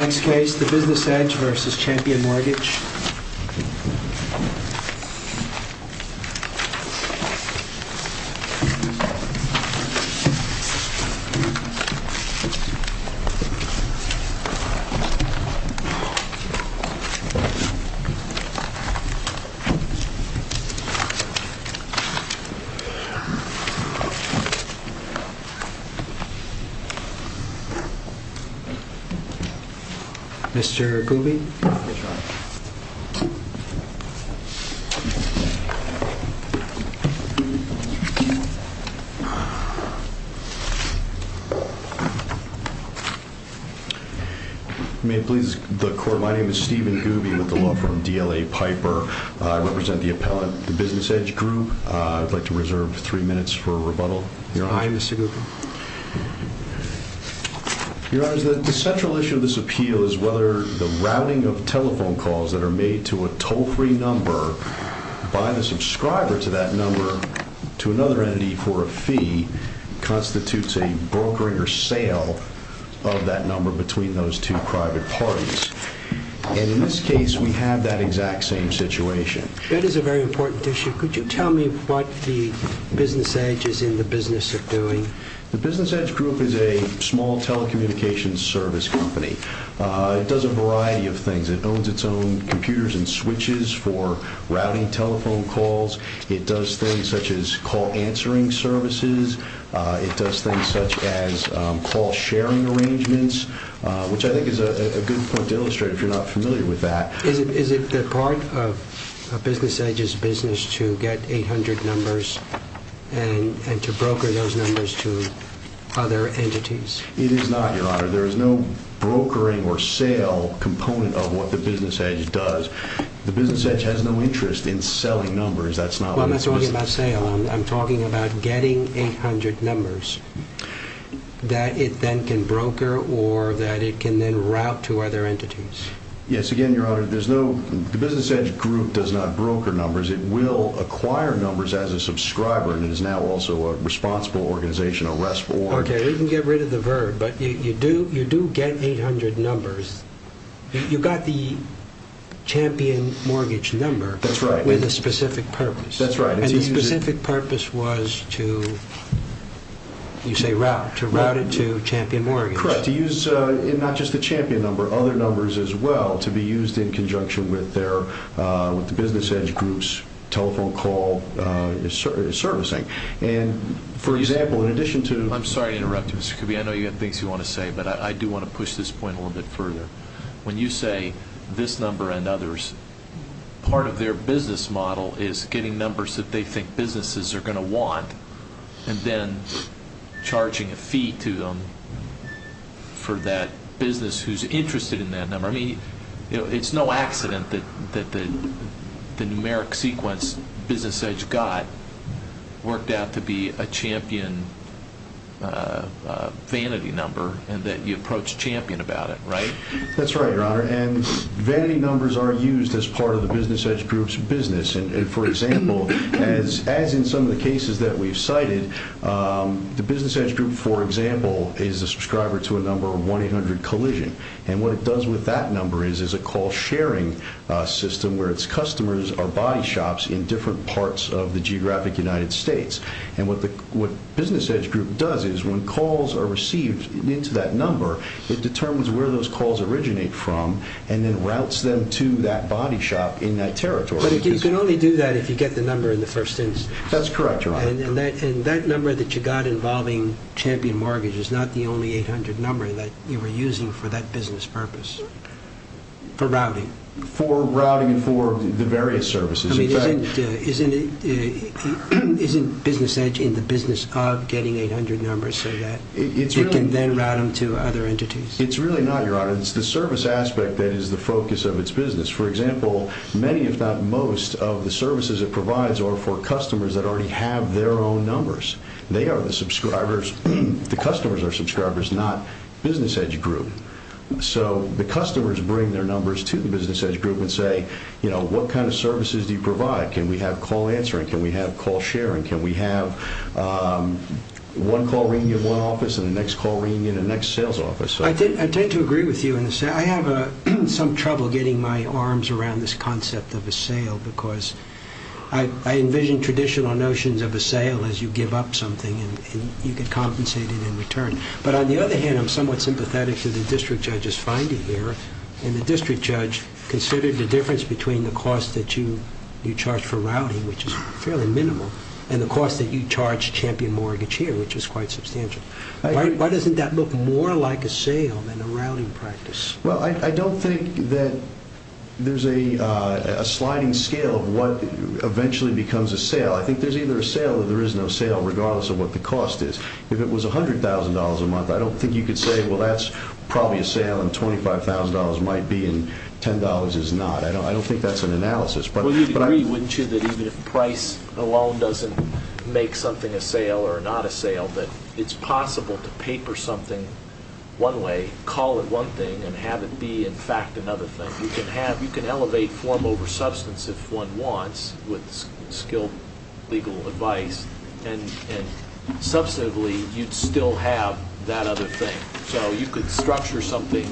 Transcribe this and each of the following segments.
Next case, the Business Edge v. Champion Mortgage Mr. Gooby May it please the court, my name is Stephen Gooby with the law firm DLA Piper I represent the appellant, the Business Edge Group I would like to reserve three minutes for rebuttal Aye, Mr. Gooby Your Honor, the central issue of this appeal is whether the routing of telephone calls that are made to a toll-free number by the subscriber to that number to another entity for a fee constitutes a brokering or sale of that number between those two private parties and in this case we have that exact same situation That is a very important issue Could you tell me what the Business Edge is in the business of doing The Business Edge Group is a small telecommunications service company It does a variety of things, it owns its own computers and switches for routing telephone calls It does things such as call answering services It does things such as call sharing arrangements which I think is a good point to illustrate if you're not familiar with that Is it part of Business Edge's business to get 800 numbers and to broker those numbers to other entities It is not, Your Honor There is no brokering or sale component of what the Business Edge does The Business Edge has no interest in selling numbers Well, I'm not talking about sale I'm talking about getting 800 numbers that it then can broker or that it can then route to other entities Yes, again, Your Honor, the Business Edge Group does not broker numbers It will acquire numbers as a subscriber and is now also a responsible organization, a REST Board Okay, you can get rid of the verb, but you do get 800 numbers You got the champion mortgage number with a specific purpose And the specific purpose was to, you say route, to route it to champion mortgage Correct, to use not just the champion number, other numbers as well to be used in conjunction with the Business Edge Group's telephone call servicing And, for example, in addition to I'm sorry to interrupt you, Mr. Kirby I know you have things you want to say, but I do want to push this point a little bit further When you say this number and others, part of their business model is getting numbers that they think businesses are going to want and then charging a fee to them for that business who's interested in that number I mean, it's no accident that the numeric sequence Business Edge got worked out to be a champion vanity number and that you approached champion about it, right? That's right, Your Honor And vanity numbers are used as part of the Business Edge Group's business And, for example, as in some of the cases that we've cited the Business Edge Group, for example, is a subscriber to a number 1-800-COLLISION And what it does with that number is a call sharing system where its customers are body shops in different parts of the geographic United States And what Business Edge Group does is when calls are received into that number it determines where those calls originate from and then routes them to that body shop in that territory But you can only do that if you get the number in the first instance That's correct, Your Honor And that number that you got involving champion mortgage is not the only 800 number that you were using for that business purpose for routing For routing for the various services I mean, isn't Business Edge in the business of getting 800 numbers so that it can then route them to other entities? It's really not, Your Honor It's the service aspect that is the focus of its business For example, many, if not most, of the services it provides are for customers that already have their own numbers They are the subscribers The customers are subscribers, not Business Edge Group So the customers bring their numbers to the Business Edge Group and say, you know, what kind of services do you provide? Can we have call answering? Can we have call sharing? Can we have one call reunion in one office and the next call reunion in the next sales office? I tend to agree with you in the sense I have some trouble getting my arms around this concept of a sale because I envision traditional notions of a sale as you give up something and you get compensated in return But on the other hand, I'm somewhat sympathetic to the district judge's finding here and the district judge considered the difference between the cost that you charge for routing, which is fairly minimal and the cost that you charge champion mortgage here, which is quite substantial Why doesn't that look more like a sale than a routing practice? Well, I don't think that there's a sliding scale of what eventually becomes a sale I think there's either a sale or there is no sale, regardless of what the cost is If it was $100,000 a month, I don't think you could say Well, that's probably a sale and $25,000 might be and $10 is not I don't think that's an analysis Well, you'd agree, wouldn't you, that even if price alone doesn't make something a sale or not a sale that it's possible to paper something one way, call it one thing and have it be in fact another thing You can elevate form over substance if one wants with skilled legal advice and substantively you'd still have that other thing So you could structure something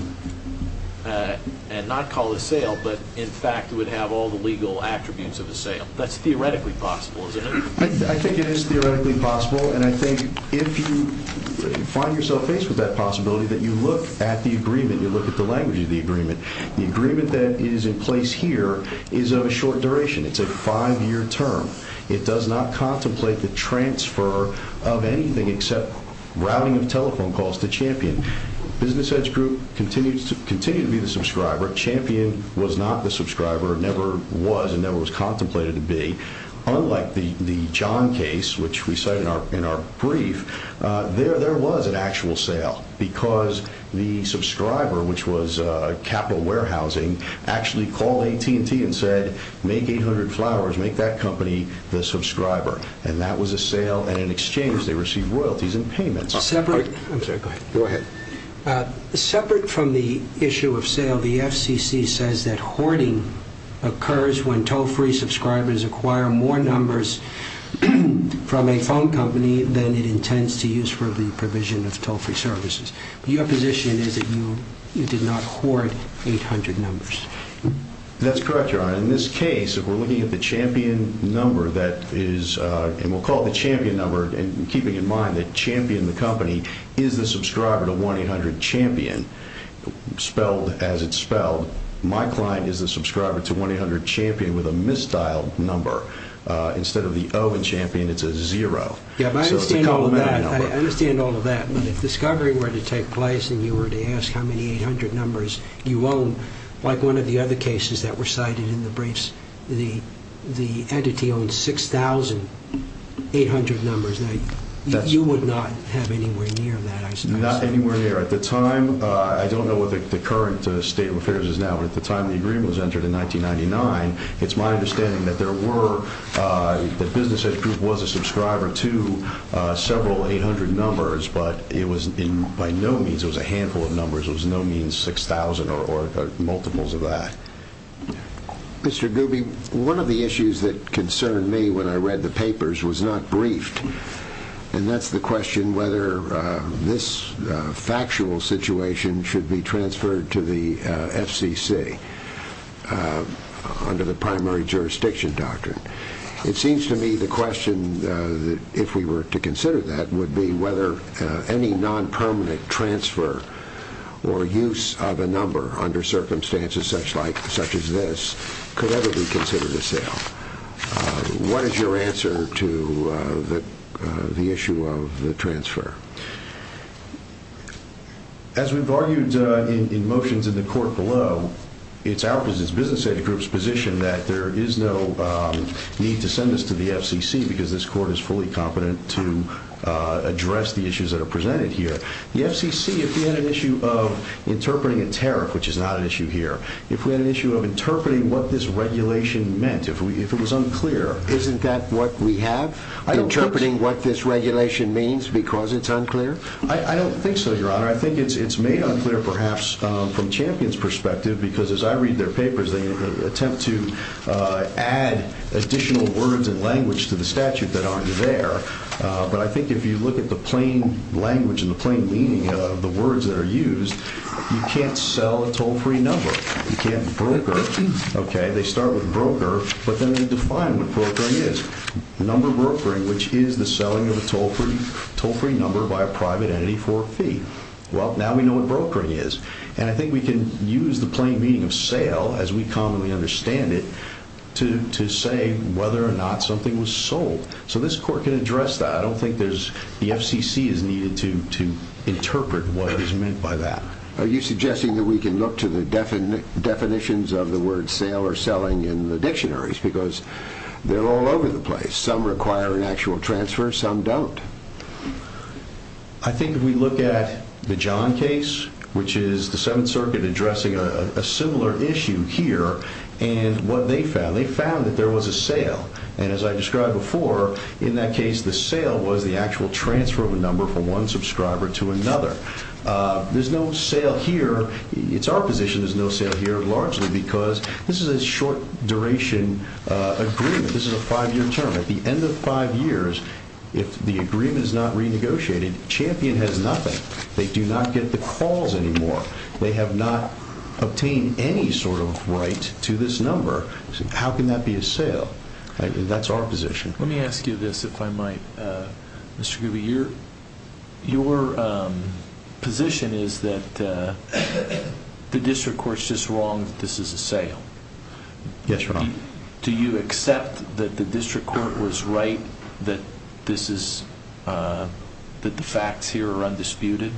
and not call it a sale but in fact it would have all the legal attributes of a sale That's theoretically possible, isn't it? I think it is theoretically possible and I think if you find yourself faced with that possibility that you look at the agreement, you look at the language of the agreement The agreement that is in place here is of a short duration, it's a five-year term It does not contemplate the transfer of anything except routing of telephone calls to Champion Business Edge Group continued to be the subscriber Champion was not the subscriber, never was and never was contemplated to be Unlike the John case, which we cite in our brief, there was an actual sale because the subscriber, which was Capital Warehousing, actually called AT&T and said Make 800 Flowers, make that company the subscriber and that was a sale and in exchange they received royalties and payments Separate from the issue of sale, the FCC says that hoarding occurs when toll-free subscribers acquire more numbers from a phone company than it intends to use for the provision of toll-free services Your position is that you did not hoard 800 numbers That's correct, Your Honor In this case, if we're looking at the Champion number that is and we'll call it the Champion number and keeping in mind that Champion, the company is the subscriber to 1-800-CHAMPION, spelled as it's spelled My client is the subscriber to 1-800-CHAMPION with a mistyled number Instead of the O in Champion, it's a zero I understand all of that, but if discovery were to take place and you were to ask how many 800 numbers you own, like one of the other cases that were cited in the briefs, the entity owned 6,800 numbers You would not have anywhere near that, I suppose Not anywhere near. At the time, I don't know what the current state of affairs is now but at the time the agreement was entered in 1999, it's my understanding that there were that Business Edge Group was a subscriber to several 800 numbers but it was by no means a handful of numbers, it was by no means 6,000 or multiples of that Mr. Gooby, one of the issues that concerned me when I read the papers was not briefed and that's the question whether this factual situation should be transferred to the FCC under the primary jurisdiction doctrine It seems to me the question, if we were to consider that, would be whether any non-permanent transfer or use of a number under circumstances such as this could ever be considered a sale What is your answer to the issue of the transfer? As we've argued in motions in the court below, it's our business, Business Edge Group's position that there is no need to send this to the FCC because this court is fully competent to address the issues that are presented here The FCC, if we had an issue of interpreting a tariff, which is not an issue here If we had an issue of interpreting what this regulation meant, if it was unclear Isn't that what we have? Interpreting what this regulation means because it's unclear? I don't think so, Your Honor. I think it's made unclear perhaps from Champion's perspective because as I read their papers, they attempt to add additional words and language to the statute that aren't there But I think if you look at the plain language and the plain meaning of the words that are used You can't sell a toll-free number, you can't broker They start with broker, but then they define what brokering is Number brokering, which is the selling of a toll-free number by a private entity for a fee Well, now we know what brokering is And I think we can use the plain meaning of sale, as we commonly understand it to say whether or not something was sold So this court can address that. I don't think the FCC is needed to interpret what is meant by that Are you suggesting that we can look to the definitions of the word sale or selling in the dictionaries? Because they're all over the place. Some require an actual transfer, some don't I think if we look at the John case, which is the Seventh Circuit addressing a similar issue here And what they found, they found that there was a sale And as I described before, in that case the sale was the actual transfer of a number from one subscriber to another There's no sale here. It's our position there's no sale here largely because this is a short duration agreement This is a five-year term. At the end of five years, if the agreement is not renegotiated, Champion has nothing They do not get the calls anymore. They have not obtained any sort of right to this number How can that be a sale? That's our position Let me ask you this, if I might, Mr. Gooby Your position is that the District Court is just wrong that this is a sale Yes, Your Honor Do you accept that the District Court was right that the facts here are undisputed?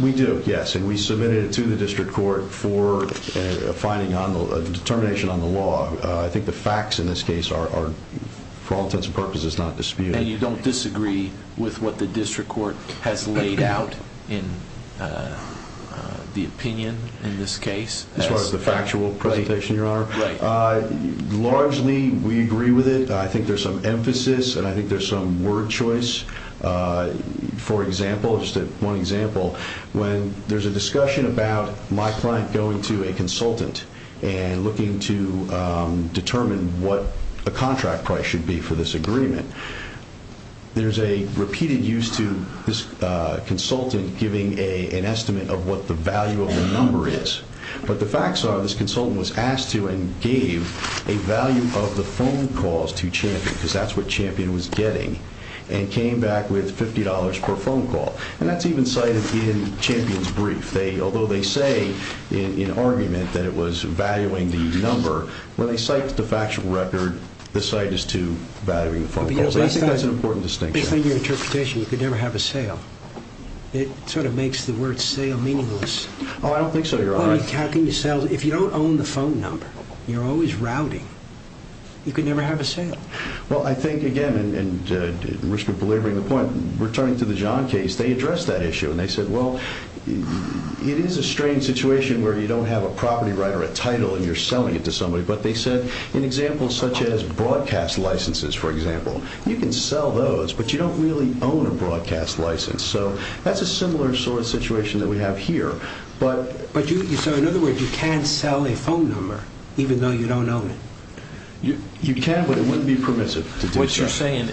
We do, yes, and we submitted it to the District Court for a determination on the law I think the facts in this case are, for all intents and purposes, not disputed And you don't disagree with what the District Court has laid out in the opinion in this case? As far as the factual presentation, Your Honor? Right Largely, we agree with it. I think there's some emphasis and I think there's some word choice For example, just one example, when there's a discussion about my client going to a consultant and looking to determine what the contract price should be for this agreement There's a repeated use to this consultant giving an estimate of what the value of the number is But the facts are, this consultant was asked to and gave a value of the phone calls to Champion Because that's what Champion was getting, and came back with $50 per phone call And that's even cited in Champion's brief Although they say, in argument, that it was valuing the number When they cite the factual record, the site is too valuing the phone calls I think that's an important distinction Based on your interpretation, you could never have a sale It sort of makes the word sale meaningless Oh, I don't think so, Your Honor If you don't own the phone number, you're always routing You could never have a sale Well, I think, again, at the risk of belaboring the point Returning to the John case, they addressed that issue And they said, well, it is a strange situation where you don't have a property right or a title And you're selling it to somebody But they said, in examples such as broadcast licenses, for example You can sell those, but you don't really own a broadcast license So, that's a similar sort of situation that we have here So, in other words, you can sell a phone number, even though you don't own it You can, but it wouldn't be permissive to do so What you're saying,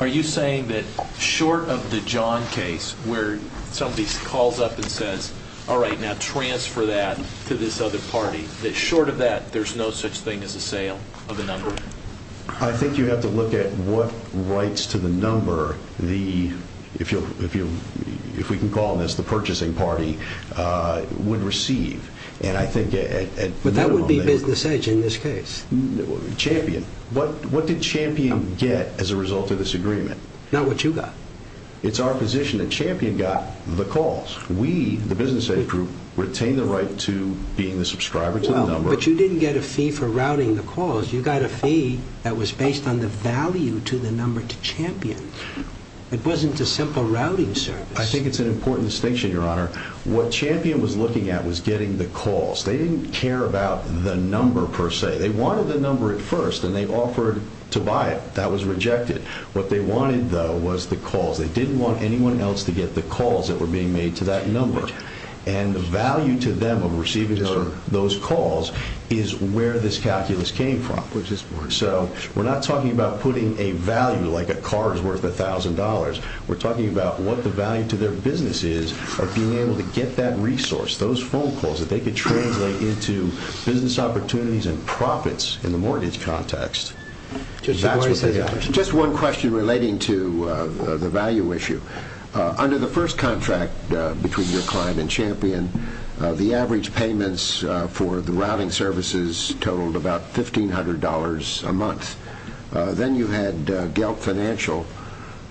are you saying that short of the John case Where somebody calls up and says, all right, now transfer that to this other party That short of that, there's no such thing as a sale of the number? I think you have to look at what rights to the number If we can call this the purchasing party would receive And I think at minimum Champion, what did Champion get as a result of this agreement? Not what you got It's our position that Champion got the calls We, the business age group, retain the right to being the subscriber to the number But you didn't get a fee for routing the calls You got a fee that was based on the value to the number to Champion It wasn't a simple routing service I think it's an important distinction, your honor What Champion was looking at was getting the calls They didn't care about the number per se They wanted the number at first and they offered to buy it That was rejected What they wanted though was the calls They didn't want anyone else to get the calls that were being made to that number And the value to them of receiving those calls is where this calculus came from So we're not talking about putting a value like a car is worth $1,000 We're talking about what the value to their business is Of being able to get that resource Those phone calls that they could translate into business opportunities and profits in the mortgage context Just one question relating to the value issue Under the first contract between your client and Champion The average payments for the routing services totaled about $1,500 a month Then you had GELT financial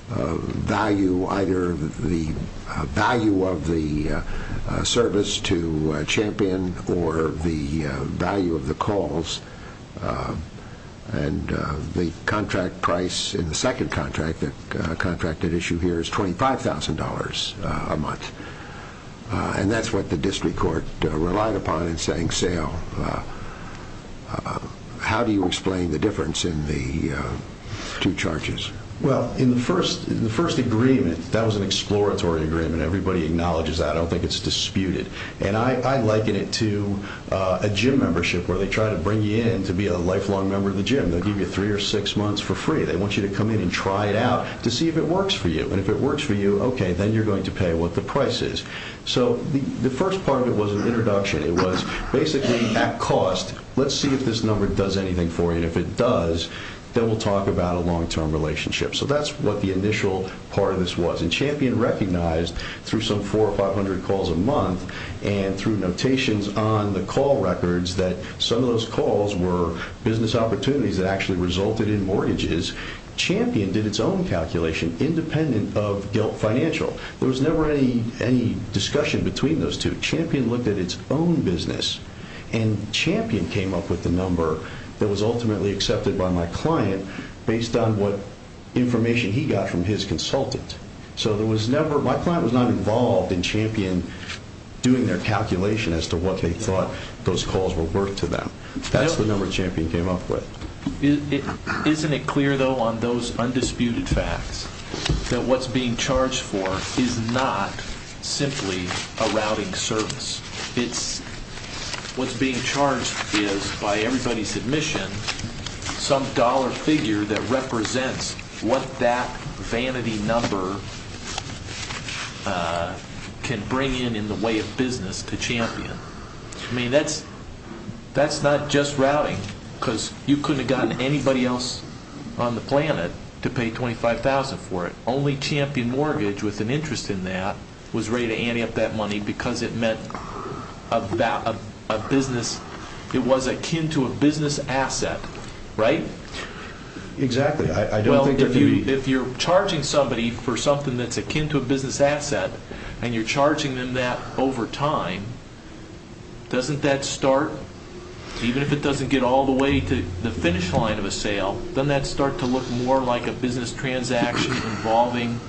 value Either the value of the service to Champion or the value of the calls And the contract price in the second contract that issue here is $25,000 a month And that's what the district court relied upon in saying sale How do you explain the difference in the two charges? Well, in the first agreement, that was an exploratory agreement Everybody acknowledges that, I don't think it's disputed And I liken it to a gym membership where they try to bring you in to be a lifelong member of the gym They'll give you three or six months for free They want you to come in and try it out to see if it works for you And if it works for you, okay, then you're going to pay what the price is So the first part of it was an introduction It was basically at cost, let's see if this number does anything for you And if it does, then we'll talk about a long-term relationship So that's what the initial part of this was And Champion recognized through some 400 or 500 calls a month And through notations on the call records That some of those calls were business opportunities that actually resulted in mortgages Champion did its own calculation independent of GELT financial There was never any discussion between those two Champion looked at its own business And Champion came up with the number that was ultimately accepted by my client Based on what information he got from his consultant So there was never, my client was not involved in Champion doing their calculation As to what they thought those calls were worth to them That's the number Champion came up with Isn't it clear though on those undisputed facts That what's being charged for is not simply a routing service What's being charged is, by everybody's admission Some dollar figure that represents what that vanity number Can bring in in the way of business to Champion I mean, that's not just routing Because you couldn't have gotten anybody else on the planet to pay $25,000 for it Only Champion Mortgage, with an interest in that Was ready to ante up that money because it meant It was akin to a business asset, right? Exactly, I don't think there could be If you're charging somebody for something that's akin to a business asset And you're charging them that over time Doesn't that start, even if it doesn't get all the way to the finish line of a sale Doesn't that start to look more like a business transaction Involving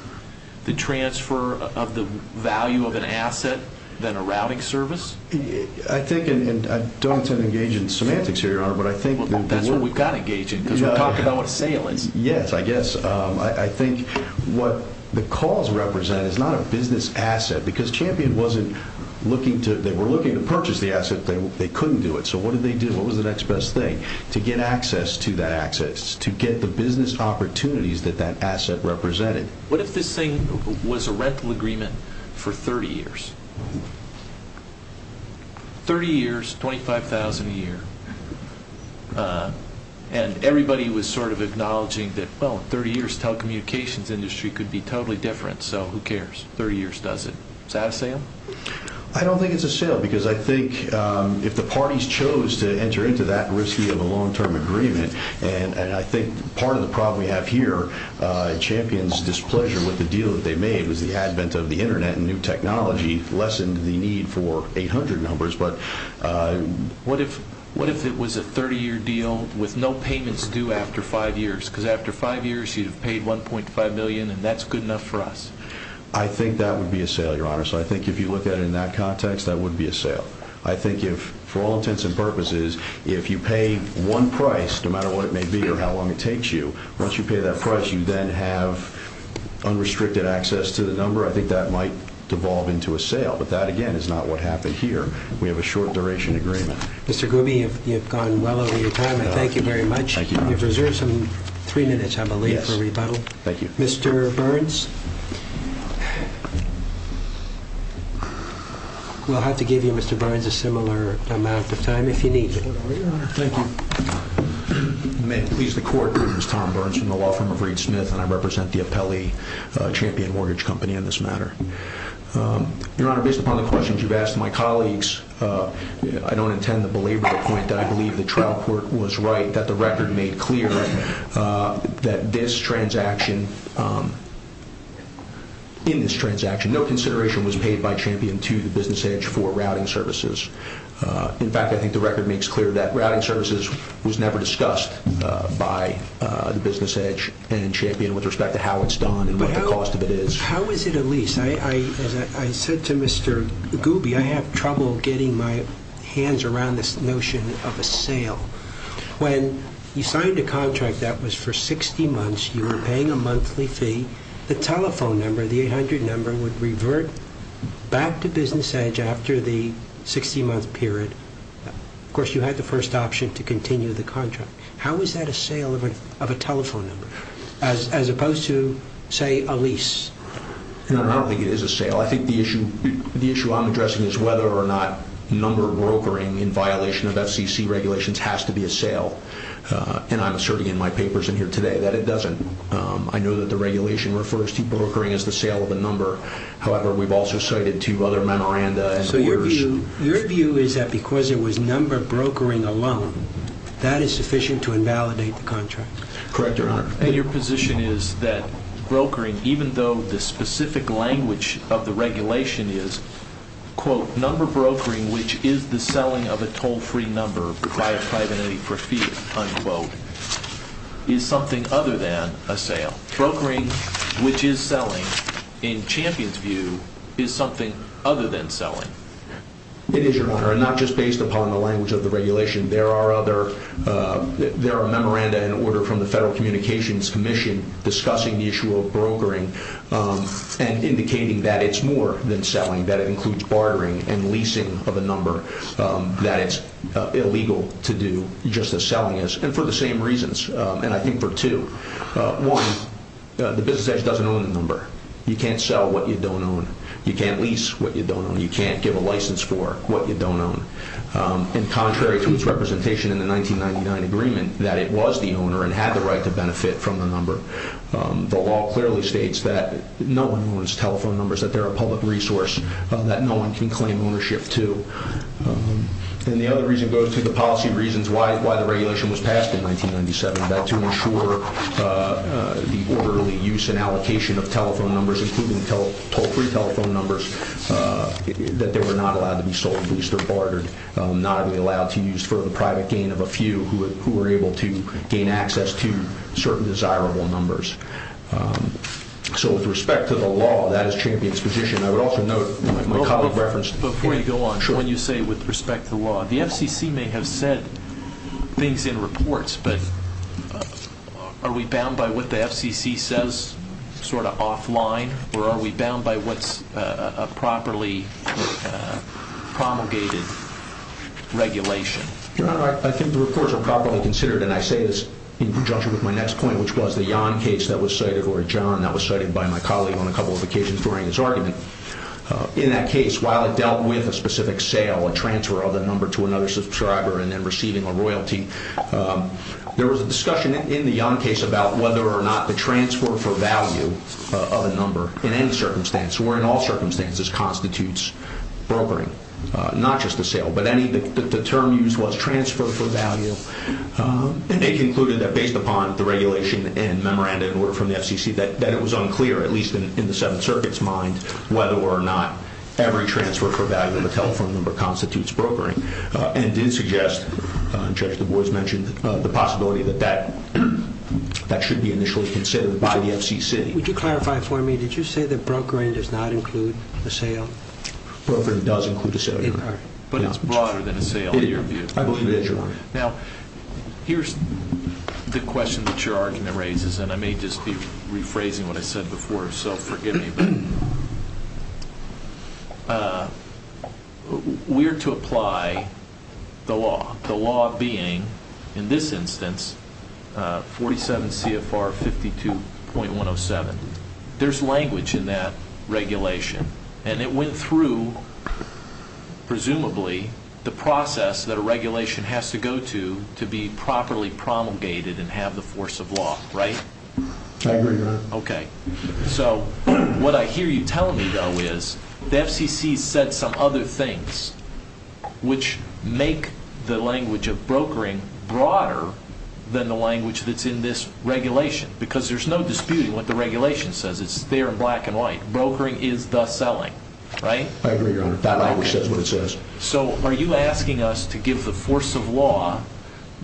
the transfer of the value of an asset than a routing service? I don't intend to engage in semantics here, Your Honor That's what we've got to engage in because we're talking about what a sale is Yes, I guess, I think what the calls represent is not a business asset Because Champion wasn't looking to, they were looking to purchase the asset They couldn't do it, so what did they do? What was the next best thing? To get access to that access To get the business opportunities that that asset represented What if this thing was a rental agreement for 30 years? 30 years, $25,000 a year And everybody was sort of acknowledging that Well, 30 years telecommunications industry could be totally different So who cares? 30 years does it Is that a sale? I don't think it's a sale Because I think if the parties chose to enter into that risky of a long-term agreement And I think part of the problem we have here Champion's displeasure with the deal that they made Was the advent of the internet and new technology Lessened the need for 800 numbers What if it was a 30-year deal with no payments due after 5 years? Because after 5 years you'd have paid $1.5 million And that's good enough for us I think that would be a sale, your honor So I think if you look at it in that context, that would be a sale I think if, for all intents and purposes If you pay one price, no matter what it may be or how long it takes you Once you pay that price, you then have unrestricted access to the number I think that might devolve into a sale But that, again, is not what happened here We have a short-duration agreement Mr. Gooby, you've gone well over your time I thank you very much You've reserved some three minutes, I believe, for rebuttal Thank you Mr. Burns We'll have to give you, Mr. Burns, a similar amount of time if you need it Thank you May it please the court, this is Tom Burns from the law firm of Reed Smith And I represent the Apelli Champion Mortgage Company in this matter Your honor, based upon the questions you've asked my colleagues I don't intend to belabor the point that I believe the trial court was right I think that the record made clear that this transaction In this transaction, no consideration was paid by Champion to the Business Edge for routing services In fact, I think the record makes clear that routing services was never discussed by the Business Edge And Champion, with respect to how it's done and what the cost of it is How is it a lease? I said to Mr. Gooby, I have trouble getting my hands around this notion of a sale When you signed a contract that was for 60 months, you were paying a monthly fee The telephone number, the 800 number, would revert back to Business Edge after the 60-month period Of course, you had the first option to continue the contract How is that a sale of a telephone number? As opposed to, say, a lease? I don't think it is a sale I think the issue I'm addressing is whether or not number brokering in violation of FCC regulations has to be a sale And I'm asserting in my papers in here today that it doesn't I know that the regulation refers to brokering as the sale of a number However, we've also cited two other memoranda So your view is that because it was number brokering alone, that is sufficient to invalidate the contract? Correct, your honor And your position is that brokering, even though the specific language of the regulation is Quote, number brokering, which is the selling of a toll-free number by a private entity for fee, unquote Is something other than a sale Brokering, which is selling, in Champion's view, is something other than selling It is, your honor, and not just based upon the language of the regulation There are other, there are memoranda in order from the Federal Communications Commission discussing the issue of brokering And indicating that it's more than selling, that it includes bartering and leasing of a number That it's illegal to do, just as selling is And for the same reasons, and I think for two One, the business agent doesn't own the number You can't sell what you don't own You can't lease what you don't own You can't give a license for what you don't own And contrary to its representation in the 1999 agreement That it was the owner and had the right to benefit from the number The law clearly states that no one owns telephone numbers, that they're a public resource That no one can claim ownership to And the other reason goes to the policy reasons why the regulation was passed in 1997 That to ensure the orderly use and allocation of telephone numbers Including toll-free telephone numbers That they were not allowed to be sold, leased or bartered Not to be allowed to use for the private gain of a few Who were able to gain access to certain desirable numbers So with respect to the law, that is Champion's position I would also note, my colleague referenced Before you go on, when you say with respect to the law The FCC may have said things in reports But are we bound by what the FCC says, sort of offline? Or are we bound by what's a properly promulgated regulation? Your Honor, I think the reports are properly considered And I say this in conjunction with my next point Which was the Yon case that was cited Or John that was cited by my colleague on a couple of occasions during his argument In that case, while it dealt with a specific sale A transfer of a number to another subscriber And then receiving a royalty There was a discussion in the Yon case About whether or not the transfer for value of a number In any circumstance, or in all circumstances Constitutes brokering, not just a sale But the term used was transfer for value And they concluded that based upon the regulation And memorandum from the FCC That it was unclear, at least in the Seventh Circuit's mind Whether or not every transfer for value of a telephone number Constitutes brokering And did suggest, Judge Du Bois mentioned The possibility that that should be initially considered by the FCC Would you clarify for me Did you say that brokering does not include a sale? Brokering does include a sale But it's broader than a sale in your view I believe that, Your Honor Now, here's the question that your argument raises And I may just be rephrasing what I said before So forgive me We're to apply the law The law being, in this instance 47 CFR 52.107 There's language in that regulation And it went through, presumably The process that a regulation has to go to To be properly promulgated And have the force of law, right? I agree, Your Honor Okay So, what I hear you telling me though is The FCC said some other things Which make the language of brokering Broader than the language that's in this regulation Because there's no disputing what the regulation says It's there in black and white Brokering is the selling, right? I agree, Your Honor That language says what it says So, are you asking us to give the force of law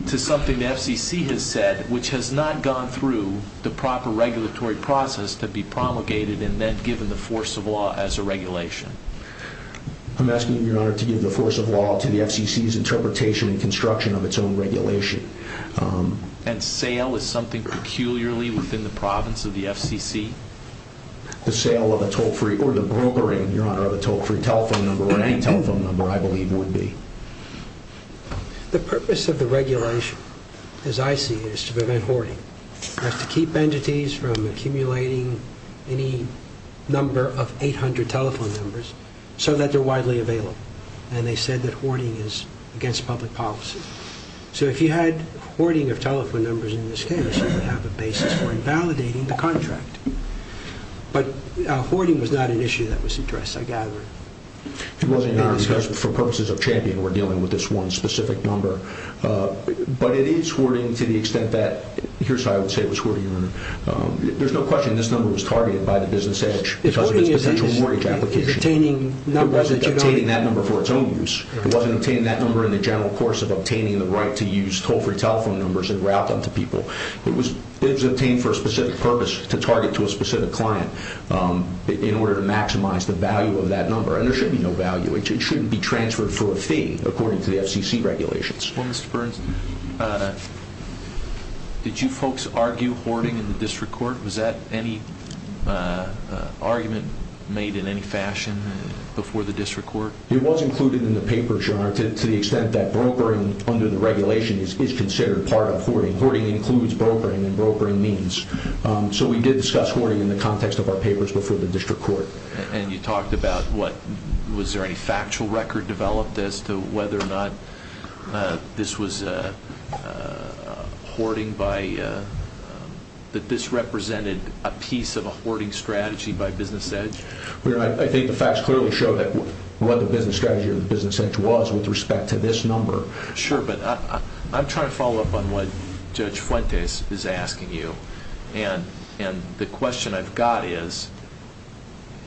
To something the FCC has said Which has not gone through The proper regulatory process to be promulgated And then given the force of law as a regulation? I'm asking you, Your Honor To give the force of law to the FCC's interpretation And construction of its own regulation And sale is something peculiarly Within the province of the FCC? The sale of a toll-free Or the brokering, Your Honor Of a toll-free telephone number Or any telephone number, I believe, would be The purpose of the regulation As I see it, is to prevent hoarding That's to keep entities from accumulating Any number of 800 telephone numbers So that they're widely available And they said that hoarding is against public policy So if you had hoarding of telephone numbers in this case You would have a basis for invalidating the contract But hoarding was not an issue that was addressed, I gather It wasn't, Your Honor, because for purposes of champion We're dealing with this one specific number But it is hoarding to the extent that Here's how I would say it was hoarding, Your Honor There's no question this number was targeted by the business edge Because of its potential mortgage application It wasn't obtaining that number for its own use It wasn't obtaining that number in the general course Of obtaining the right to use toll-free telephone numbers And route them to people It was obtained for a specific purpose To target to a specific client In order to maximize the value of that number And there should be no value It shouldn't be transferred for a fee According to the FCC regulations Well, Mr. Burns, did you folks argue hoarding in the district court? Was that any argument made in any fashion before the district court? It was included in the paper, Your Honor To the extent that brokering under the regulation Is considered part of hoarding Hoarding includes brokering and brokering means So we did discuss hoarding in the context of our papers Before the district court And you talked about what Was there any factual record developed As to whether or not this was hoarding by That this represented a piece of a hoarding strategy By Business Edge? Your Honor, I think the facts clearly show What the business strategy of Business Edge was With respect to this number Sure, but I'm trying to follow up On what Judge Fuentes is asking you And the question I've got is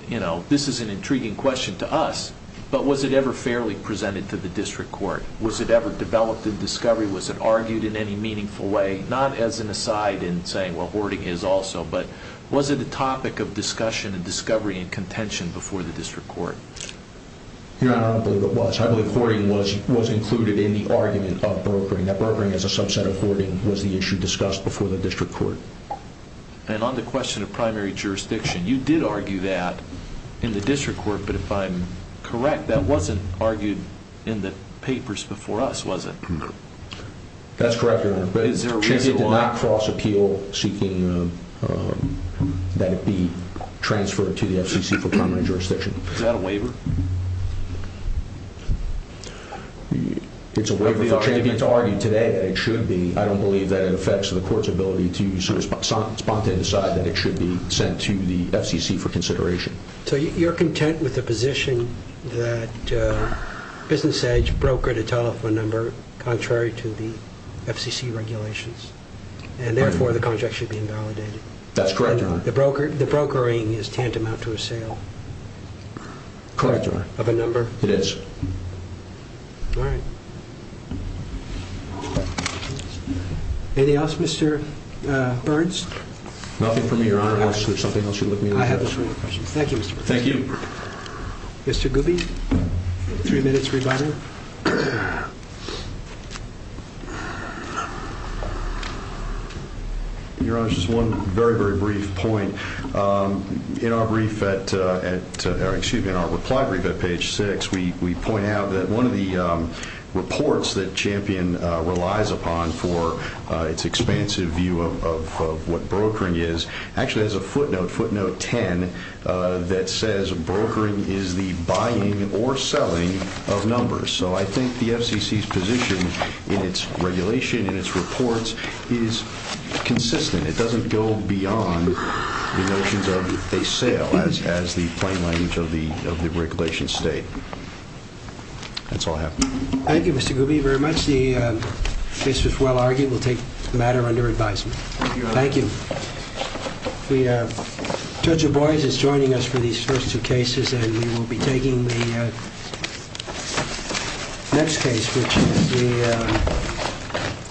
You know, this is an intriguing question to us But was it ever fairly presented to the district court? Was it ever developed in discovery? Was it argued in any meaningful way? Not as an aside in saying, well, hoarding is also But was it a topic of discussion and discovery And contention before the district court? Your Honor, I don't believe it was I believe hoarding was included in the argument of brokering That brokering as a subset of hoarding Was the issue discussed before the district court And on the question of primary jurisdiction You did argue that in the district court But if I'm correct That wasn't argued in the papers before us, was it? That's correct, Your Honor But the champion did not cross appeal Seeking that it be transferred to the FCC For primary jurisdiction Is that a waiver? It's a waiver for the champion to argue today And it should be I don't believe that it affects the court's ability To spontaneously decide that it should be Sent to the FCC for consideration So you're content with the position That Business Edge brokered a telephone number Contrary to the FCC regulations And therefore the contract should be invalidated That's correct, Your Honor The brokering is tantamount to a sale Correct, Your Honor Of a number It is All right Anything else, Mr. Burns? Nothing for me, Your Honor Unless there's something else you'd like me to address I have no further questions Thank you, Mr. Burns Thank you Mr. Gooby Three minutes rebuttal Your Honor, just one very, very brief point In our reply brief at page 6 We point out that one of the reports That champion relies upon For its expansive view of what brokering is Actually has a footnote, footnote 10 That says brokering is the buying or selling of numbers So I think the FCC's position In its regulation, in its reports Is consistent It doesn't go beyond the notions of a sale As the plain language of the regulation state That's all I have Thank you, Mr. Gooby, very much The case was well argued We'll take the matter under advisement Thank you Judge O'Bries is joining us for these first two cases And we will be taking the next case Which is the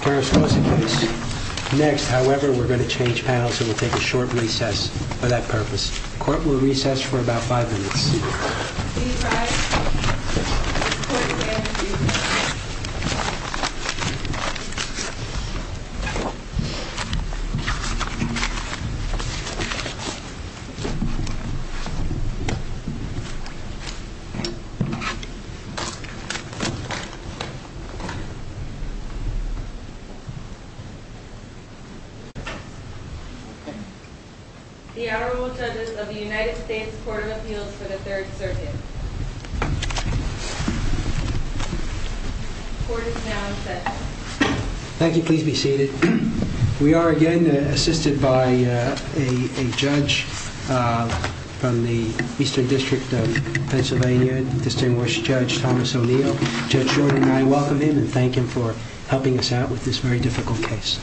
Carrascosa case next However, we're going to change panels And we'll take a short recess for that purpose Court will recess for about five minutes The Honorable Judges of the United States Court of Appeals For the Third Circuit The court is now in session Thank you, please be seated We are again assisted by a judge And we'll take a short recess The Honorable Judge of Pennsylvania Distinguished Judge Thomas O'Neill Judge Jordan and I welcome him And thank him for helping us out With this very difficult case